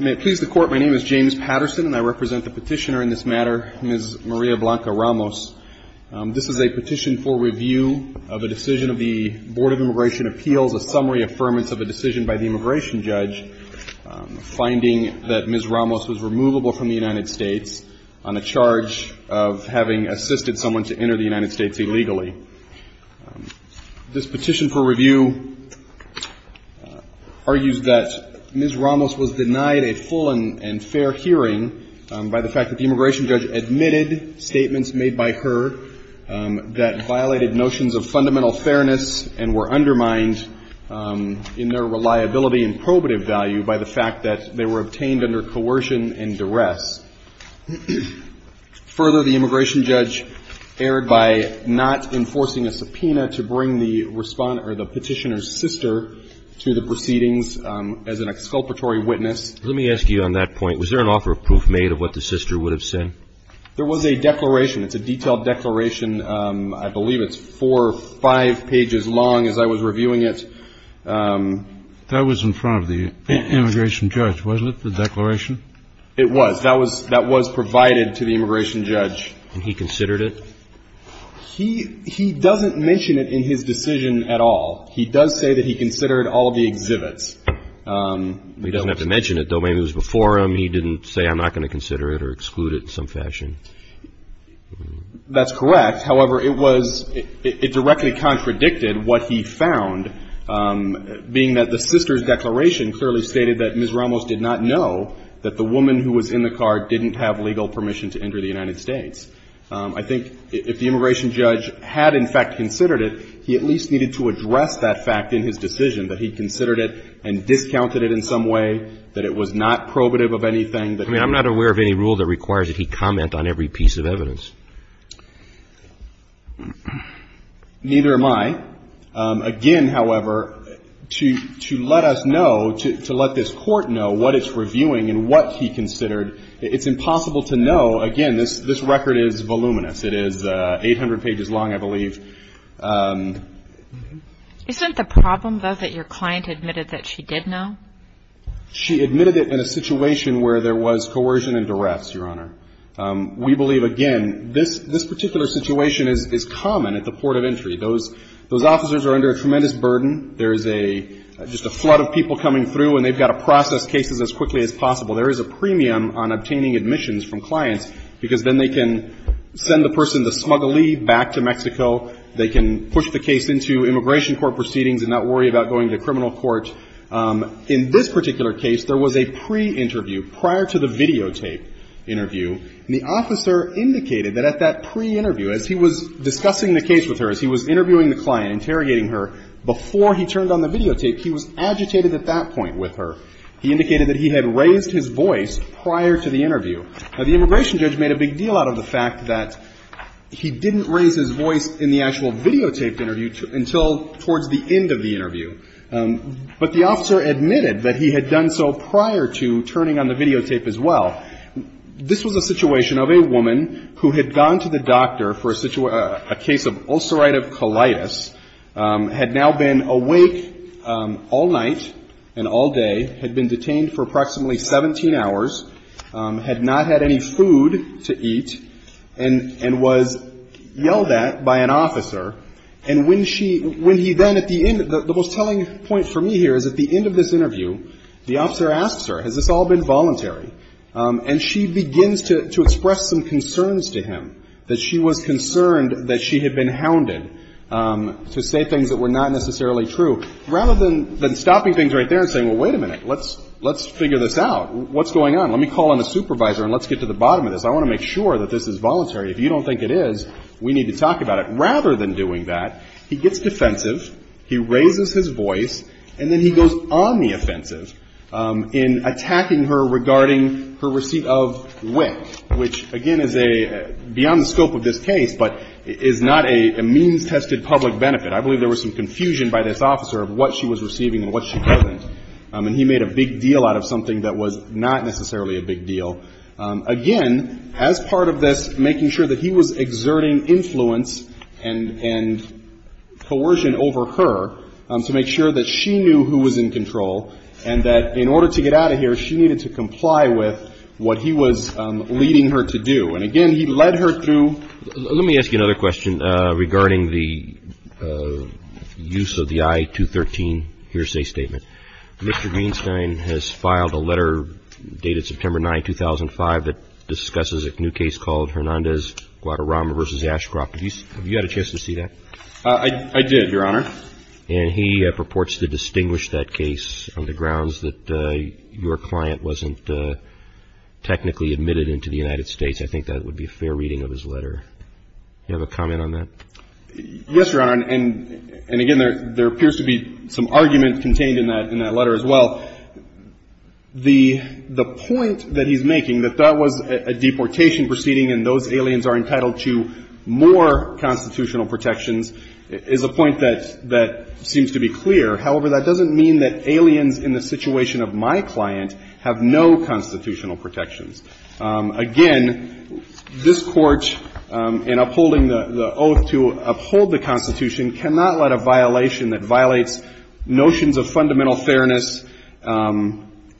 May it please the Court, my name is James Patterson and I represent the petitioner in this matter, Ms. Maria Blanca Ramos. This is a petition for review of a decision of the Board of Immigration Appeals, a summary affirmance of a decision by the immigration judge, finding that Ms. Ramos was removable from the United States on a charge of having assisted someone to enter the United States illegally. This petition for review argues that Ms. Ramos was denied a full and fair hearing by the fact that the immigration judge admitted statements made by her that violated notions of fundamental fairness and were undermined in their reliability and probative value by the fact that they were obtained under coercion and duress. Further, the immigration judge erred by not enforcing a subpoena to bring the petitioner's sister to the proceedings as an exculpatory witness. Let me ask you on that point, was there an offer of proof made of what the sister would have said? There was a declaration. It's a detailed declaration. I believe it's four or five pages long as I was reviewing it. That was in front of the immigration judge, wasn't it, the declaration? It was. That was provided to the immigration judge. And he considered it? He doesn't mention it in his decision at all. He does say that he considered all of the exhibits. He doesn't have to mention it, though. Maybe it was before him. He didn't say, I'm not going to consider it or exclude it in some fashion. That's correct. However, it was — it directly contradicted what he found, being that the sister's declaration clearly stated that Ms. Ramos did not know that the woman who was in the car didn't have legal permission to enter the United States. I think if the immigration judge had in fact considered it, he at least needed to address that fact in his decision, that he considered it and discounted it in some way, that it was not probative of anything. I mean, I'm not aware of any rule that requires that he comment on every piece of evidence. Neither am I. Again, however, to let us know, to let this court know what it's reviewing and what he considered, it's impossible to know. Again, this record is voluminous. It is 800 pages long, I believe. Isn't the problem, though, that your client admitted that she did know? She admitted it in a situation where there was coercion and duress, Your Honor. We believe, again, this particular situation is common at the port of entry. Those officers are under a tremendous burden. There is a — just a flood of people coming through, and they've got to process cases as quickly as possible. There is a premium on obtaining admissions from clients, because then they can send the person to smuggle leave back to Mexico. They can push the case into immigration court proceedings and not worry about going to criminal court. In this particular case, there was a pre-interview, prior to the videotaped interview, and the officer indicated that at that pre-interview, as he was discussing the case with her, as he was interviewing the client, interrogating her, before he turned on the videotape, he was agitated at that point with her. He indicated that he had raised his voice prior to the interview. Now, the immigration judge made a big deal out of the fact that he didn't raise his voice in the actual videotaped interview until towards the end of the interview. But the officer admitted that he had done so prior to turning on the videotape as well. This was a situation of a woman who had gone to the doctor for a case of ulcerative colitis, had now been awake all night and all day, had been detained for approximately 17 hours, had not had any food to eat, and was yelled at by an officer. And when she — when he then, at the end — the most telling point for me here is at the end of this interview, the officer asks her, has this all been voluntary, and she begins to express some concerns to him, that she was concerned that she had been hounded to say things that were not necessarily true, rather than stopping things right there and saying, well, wait a minute, let's figure this out. What's going on? Let me call in a supervisor and let's get to the bottom of this. I want to make sure that this is voluntary. If you don't think it is, we need to talk about it. Rather than doing that, he gets defensive, he raises his voice, and then he goes on the offensive in attacking her regarding her receipt of WIC, which, again, is a — beyond the scope of this case, but is not a means-tested public benefit. I believe there was some confusion by this officer of what she was receiving and what she wasn't. And he made a big deal out of something that was not necessarily a big deal. Again, as part of this, making sure that he was exerting influence and coercion over her to make sure that she knew who was in control and that in order to get out of here, she needed to comply with what he was leading her to do. And, again, he led her through — Let me ask you another question regarding the use of the I-213 hearsay statement. Mr. Greenstein has filed a letter dated September 9, 2005, that discusses a new case called Hernandez-Guadarrama v. Ashcroft. Have you had a chance to see that? I did, Your Honor. And he purports to distinguish that case on the grounds that your client wasn't technically admitted into the United States. I think that would be a fair reading of his letter. Do you have a comment on that? Yes, Your Honor. And, again, there appears to be some argument contained in that letter as well. The point that he's making, that that was a deportation proceeding and those aliens are entitled to more constitutional protections, is a point that seems to be clear. However, that doesn't mean that aliens in the situation of my client have no constitutional protections. Again, this Court, in upholding the oath to uphold the Constitution, cannot let a violation that violates notions of fundamental fairness,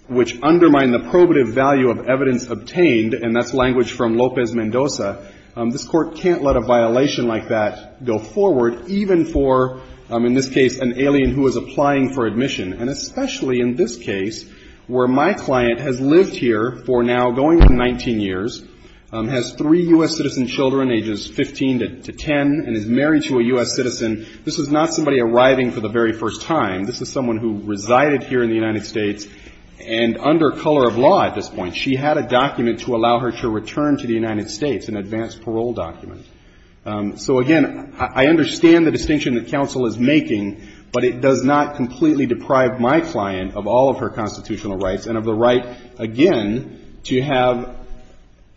which undermine the probative value of evidence obtained, and that's language from Lopez-Mendoza. This Court can't let a violation like that go forward, even for, in this case, an alien who is applying for admission. And especially in this case, where my client has lived here for now, going on 19 years, has three U.S. citizen children, ages 15 to 10, and is married to a U.S. citizen, this is not somebody arriving for the very first time. This is someone who resided here in the United States and under color of law at this point. She had a document to allow her to return to the United States, an advance parole document. So, again, I understand the distinction that counsel is making, but it does not completely deprive my client of all of her constitutional rights, and of the right, again, to have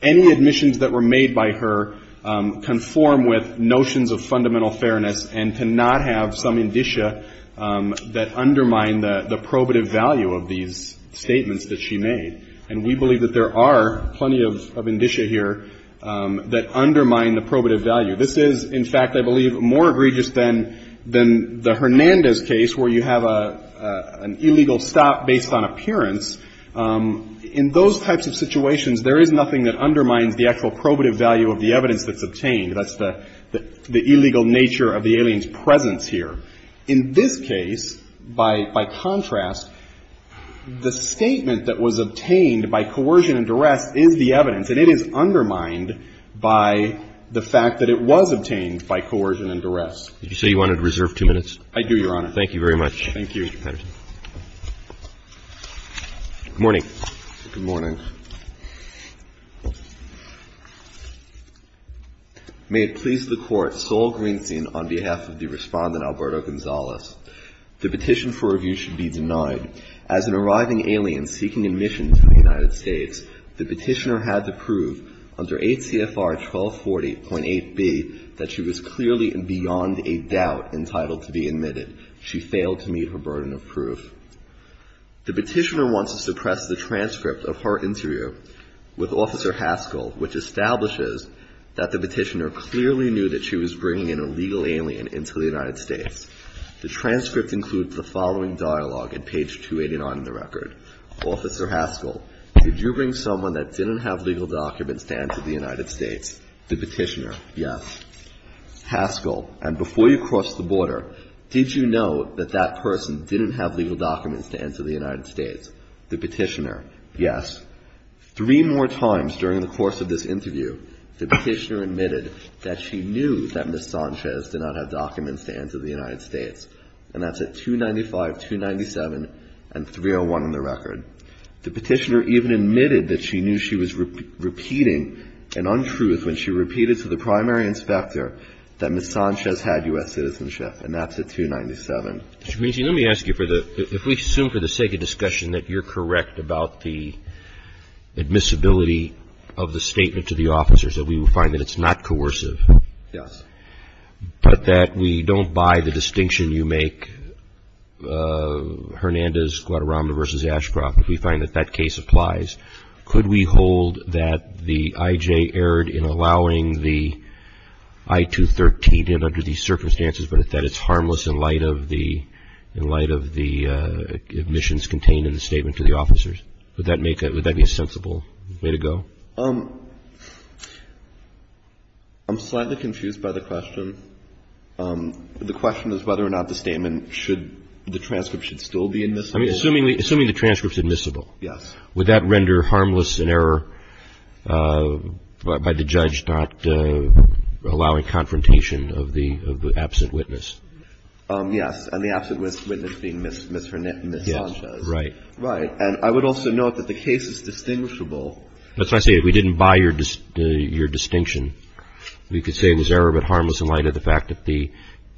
any admissions that were made by her conform with notions of fundamental fairness and to not have some indicia that undermine the probative value of these statements that she made. And we believe that there are plenty of indicia here that undermine the probative value. This is, in fact, I believe, more egregious than the Hernandez case, where you have an illegal stop based on appearance. In those types of situations, there is nothing that undermines the actual probative value of the evidence that's obtained. That's the illegal nature of the alien's presence here. In this case, by contrast, the statement that was obtained by coercion and duress is the evidence, and it is undermined by the fact that it was obtained by coercion and duress. Did you say you wanted to reserve two minutes? I do, Your Honor. Thank you very much, Mr. Patterson. Thank you. Good morning. Good morning. May it please the Court, Sol Greenstein on behalf of the Respondent Alberto Gonzalez. The petition for review should be denied. As an arriving alien seeking admission to the United States, the petitioner had to prove under 8 CFR 1240.8b that she was clearly and beyond a doubt entitled to be admitted. She failed to meet her burden of proof. The petitioner wants to suppress the transcript of her interview with Officer Haskell, which establishes that the petitioner clearly knew that she was bringing in a legal alien into the United States. The transcript includes the following dialogue at page 289 in the record. Officer Haskell, did you bring someone that didn't have legal documents to enter the United States? The petitioner, yes. Haskell, and before you crossed the border, did you know that that person didn't have legal documents to enter the United States? The petitioner, yes. Three more times during the course of this interview, the petitioner admitted that she knew that Ms. Sanchez did not have documents to enter the United States, and that's at 295, 297, and 301 in the record. The petitioner even admitted that she knew she was repeating an untruth when she repeated to the primary inspector that Ms. Sanchez had U.S. citizenship, and that's at 297. Mr. Greenstein, let me ask you, if we assume for the sake of discussion that you're correct about the admissibility of the statement to the officers, that we find that it's not coercive, but that we don't buy the distinction you make, Hernandez, Guadarrama v. Ashcroft, if we find that that case applies, could we hold that the I.J. erred in allowing the I-213 in under these circumstances, but that it's harmless in light of the admissions contained in the statement to the officers? Would that make a – would that be a sensible way to go? I'm slightly confused by the question. The question is whether or not the statement should – the transcript should still be admissible. I mean, assuming the transcript's admissible. Yes. Would that render harmless an error by the judge not allowing confrontation of the absent witness? Yes. And the absent witness being Ms. Hernandez. Yes. Right. Right. And I would also note that the case is distinguishable. That's why I say we didn't buy your distinction. We could say it was error but harmless in light of the fact that the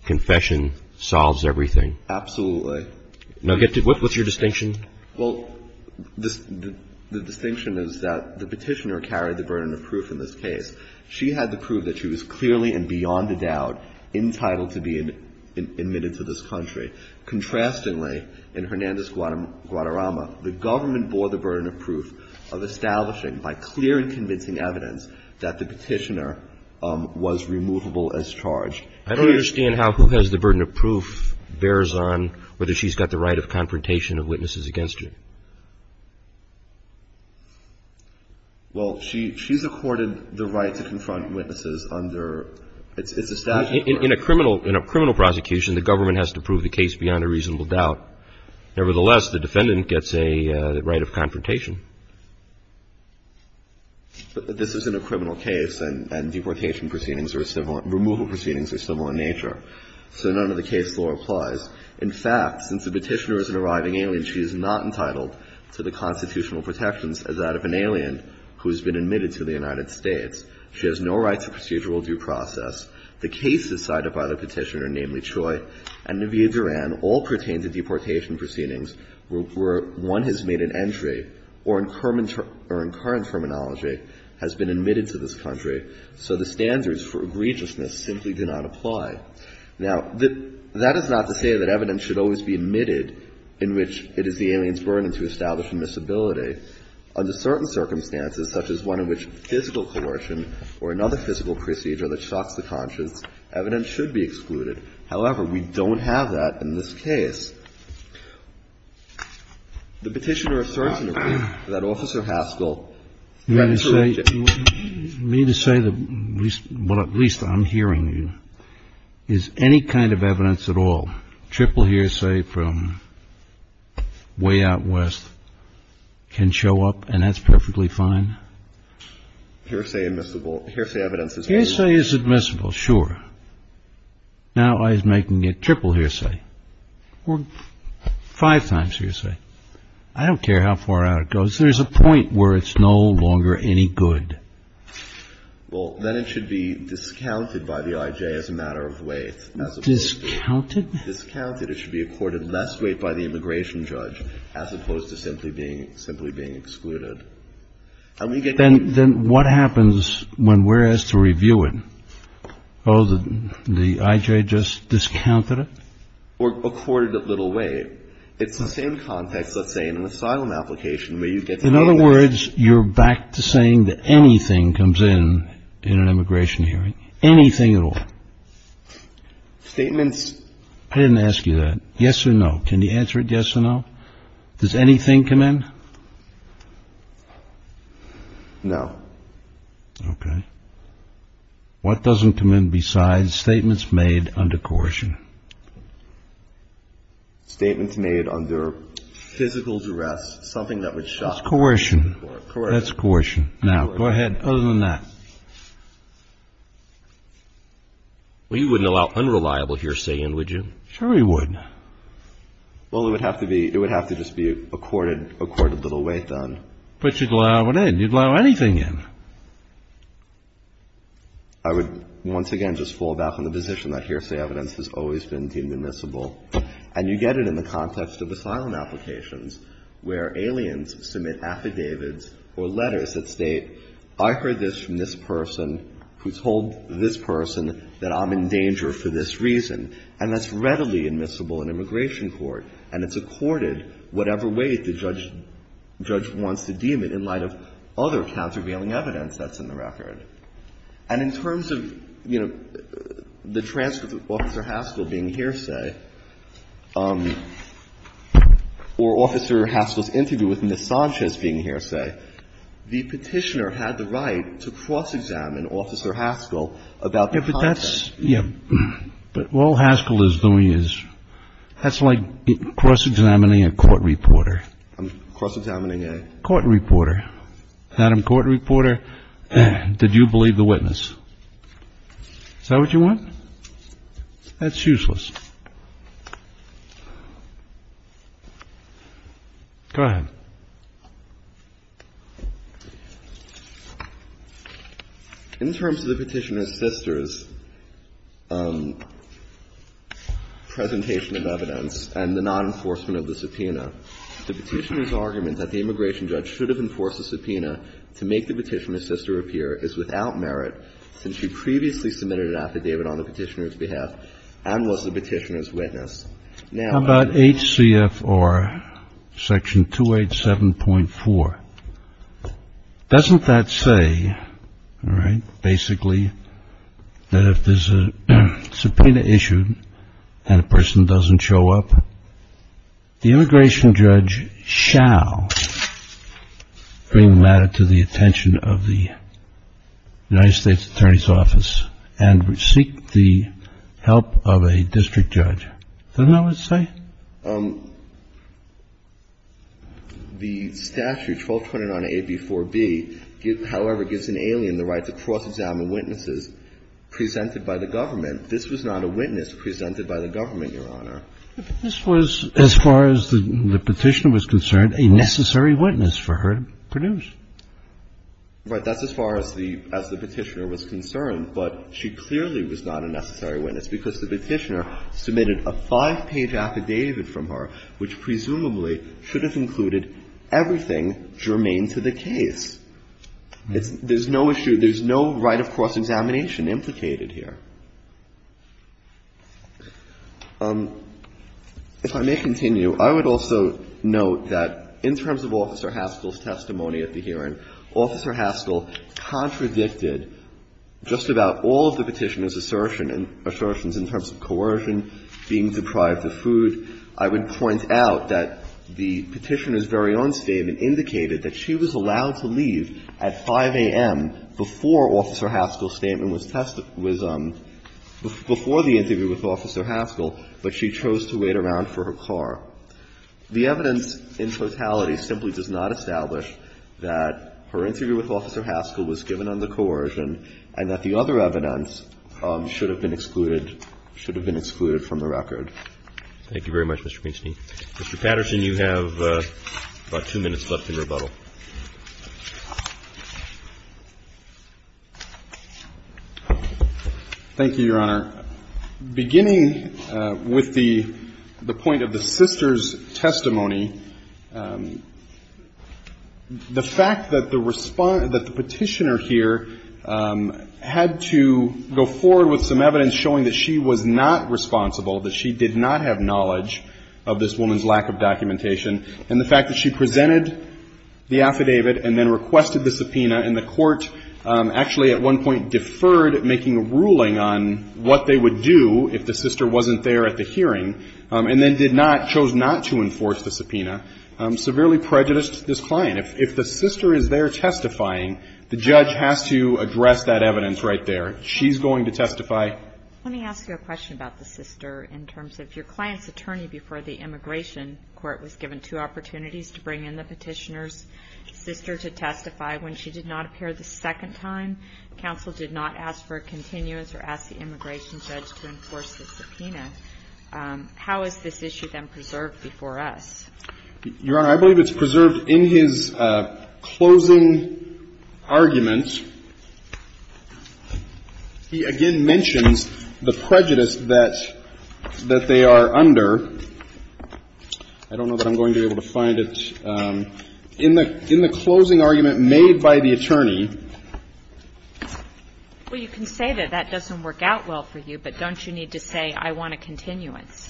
confession solves everything. Absolutely. Now, what's your distinction? Well, the distinction is that the Petitioner carried the burden of proof in this case. She had the proof that she was clearly and beyond a doubt entitled to be admitted to this country. Contrastingly, in Hernandez-Guadarrama, the government bore the burden of proof of establishing by clear and convincing evidence that the Petitioner was removable as charged. I don't understand how who has the burden of proof bears on whether she's got the right of confrontation of witnesses against you. Well, she's accorded the right to confront witnesses under – it's a statute. In a criminal prosecution, the government has to prove the case beyond a reasonable doubt. Nevertheless, the defendant gets a right of confrontation. But this isn't a criminal case, and deportation proceedings are similar – removal proceedings are similar in nature. So none of the case law applies. In fact, since the Petitioner is an arriving alien, she is not entitled to the constitutional protections as that of an alien who has been admitted to the United States. She has no right to procedural due process. The cases cited by the Petitioner, namely Choi and Navia Duran, all pertain to deportation proceedings where one has made an entry or in current terminology has been admitted to this country. So the standards for egregiousness simply do not apply. Now, that is not to say that evidence should always be admitted in which it is the alien's burden to establish admissibility. Under certain circumstances, such as one in which physical coercion or another physical procedure that shocks the conscience, evidence should be excluded. However, we don't have that in this case. The Petitioner asserts in her brief that Officer Haskell – What I'm hearing is any kind of evidence at all. Triple hearsay from way out west can show up and that's perfectly fine. Hearsay is admissible, sure. Now I'm making it triple hearsay or five times hearsay. There's a point where it's no longer any good. Well, then it should be discounted by the IJ as a matter of weight. Discounted? Discounted. It should be accorded less weight by the immigration judge as opposed to simply being excluded. Then what happens when we're asked to review it? Oh, the IJ just discounted it? Or accorded it little weight. It's the same context, let's say, in an asylum application where you get the evidence. In other words, you're back to saying that anything comes in in an immigration hearing. Anything at all. Statements. I didn't ask you that. Yes or no. Can you answer it yes or no? Does anything come in? No. Okay. What doesn't come in besides statements made under coercion? Statements made under physical duress, something that would shock the court. That's coercion. That's coercion. Now, go ahead. Other than that. Well, you wouldn't allow unreliable hearsay in, would you? Sure we would. Well, it would have to be, it would have to just be accorded little weight then. But you'd allow it in. You'd allow anything in. I would once again just fall back on the position that hearsay evidence has always been deemed admissible. And you get it in the context of asylum applications where aliens submit affidavits or letters that state, I heard this from this person who told this person that I'm in danger for this reason. And that's readily admissible in immigration court. And it's accorded whatever weight the judge wants to deem it in light of other countervailing evidence. That's in the record. And in terms of, you know, the transcript of Officer Haskell being hearsay, or Officer Haskell's interview with Ms. Sanchez being hearsay, the Petitioner had the right to cross-examine Officer Haskell about the context. Yeah. But all Haskell is doing is, that's like cross-examining a court reporter. I'm cross-examining a? Court reporter. Madam Court Reporter, did you believe the witness? Is that what you want? That's useless. Go ahead. In terms of the Petitioner's sister's presentation of evidence and the non-enforcement of the subpoena, the Petitioner's argument that the immigration judge should have enforced a subpoena to make the Petitioner's sister appear is without merit since she previously submitted an affidavit on the Petitioner's behalf and was the Petitioner's witness. How about HCFR Section 287.4? Doesn't that say, right, basically, that if there's a subpoena issued and a person doesn't show up, the immigration judge shall bring matter to the attention of the United States Attorney's Office and seek the help of a district judge? Doesn't that what it says? The statute, 1229A before B, however, gives an alien the right to cross-examine witnesses presented by the government. This was not a witness presented by the government, Your Honor. This was, as far as the Petitioner was concerned, a necessary witness for her to produce. Right. That's as far as the Petitioner was concerned, but she clearly was not a necessary witness because the Petitioner submitted a five-page affidavit from her which presumably should have included everything germane to the case. There's no issue, there's no right of cross-examination implicated here. If I may continue, I would also note that in terms of Officer Haskell's testimony at the hearing, Officer Haskell contradicted just about all of the Petitioner's assertions in terms of coercion, being deprived of food. I would point out that the Petitioner's very own statement indicated that she was allowed to leave at 5 a.m. before Officer Haskell's statement was tested, was before the interview with Officer Haskell, but she chose to wait around for her car. The evidence in totality simply does not establish that her interview with Officer Haskell was given under coercion and that the other evidence should have been excluded from the record. Roberts. Thank you very much, Mr. Feinstein. Mr. Patterson, you have about two minutes left in rebuttal. Thank you, Your Honor. Beginning with the point of the sister's testimony, the fact that the Petitioner here had to go forward with some evidence showing that she was not responsible, that she did not have knowledge of this woman's lack of documentation, and the fact that she presented the affidavit and then requested the subpoena and the court actually at one point deferred making a ruling on what they would do if the sister wasn't there at the hearing, and then did not, chose not to enforce the subpoena, severely prejudiced this client. If the sister is there testifying, the judge has to address that evidence right there. She's going to testify. Let me ask you a question about the sister in terms of your client's attorney before the immigration court was given two opportunities to bring in the Petitioner's sister to testify when she did not appear the second time. Counsel did not ask for a continuance or ask the immigration judge to enforce the subpoena. How is this issue then preserved before us? Your Honor, I believe it's preserved in his closing argument. He again mentions the prejudice that they are under. I don't know that I'm going to be able to find it. In the closing argument made by the attorney. Well, you can say that that doesn't work out well for you, but don't you need to say I want a continuance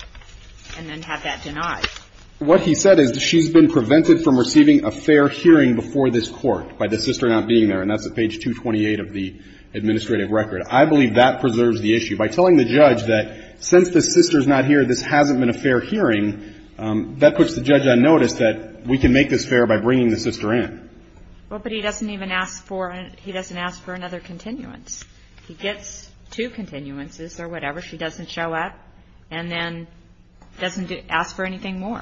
and then have that denied? What he said is she's been prevented from receiving a fair hearing before this court by the sister not being there. And that's at page 228 of the administrative record. I believe that preserves the issue. By telling the judge that since the sister's not here, this hasn't been a fair hearing, that puts the judge on notice that we can make this fair by bringing the sister in. Well, but he doesn't even ask for another continuance. He gets two continuances or whatever. She doesn't show up and then doesn't ask for anything more.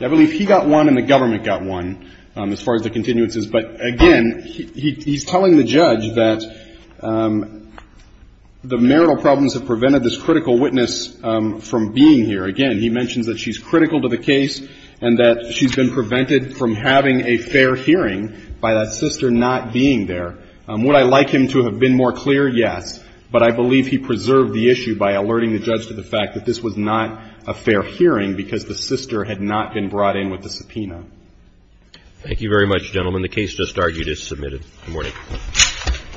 I believe he got one and the government got one as far as the continuances. But, again, he's telling the judge that the marital problems have prevented this critical witness from being here. Again, he mentions that she's critical to the case and that she's been prevented from having a fair hearing by that sister not being there. Would I like him to have been more clear? Yes. But I believe he preserved the issue by alerting the judge to the fact that this was not a fair hearing because the sister had not been brought in with the subpoena. Thank you very much, gentlemen. The case just argued is submitted. Good morning.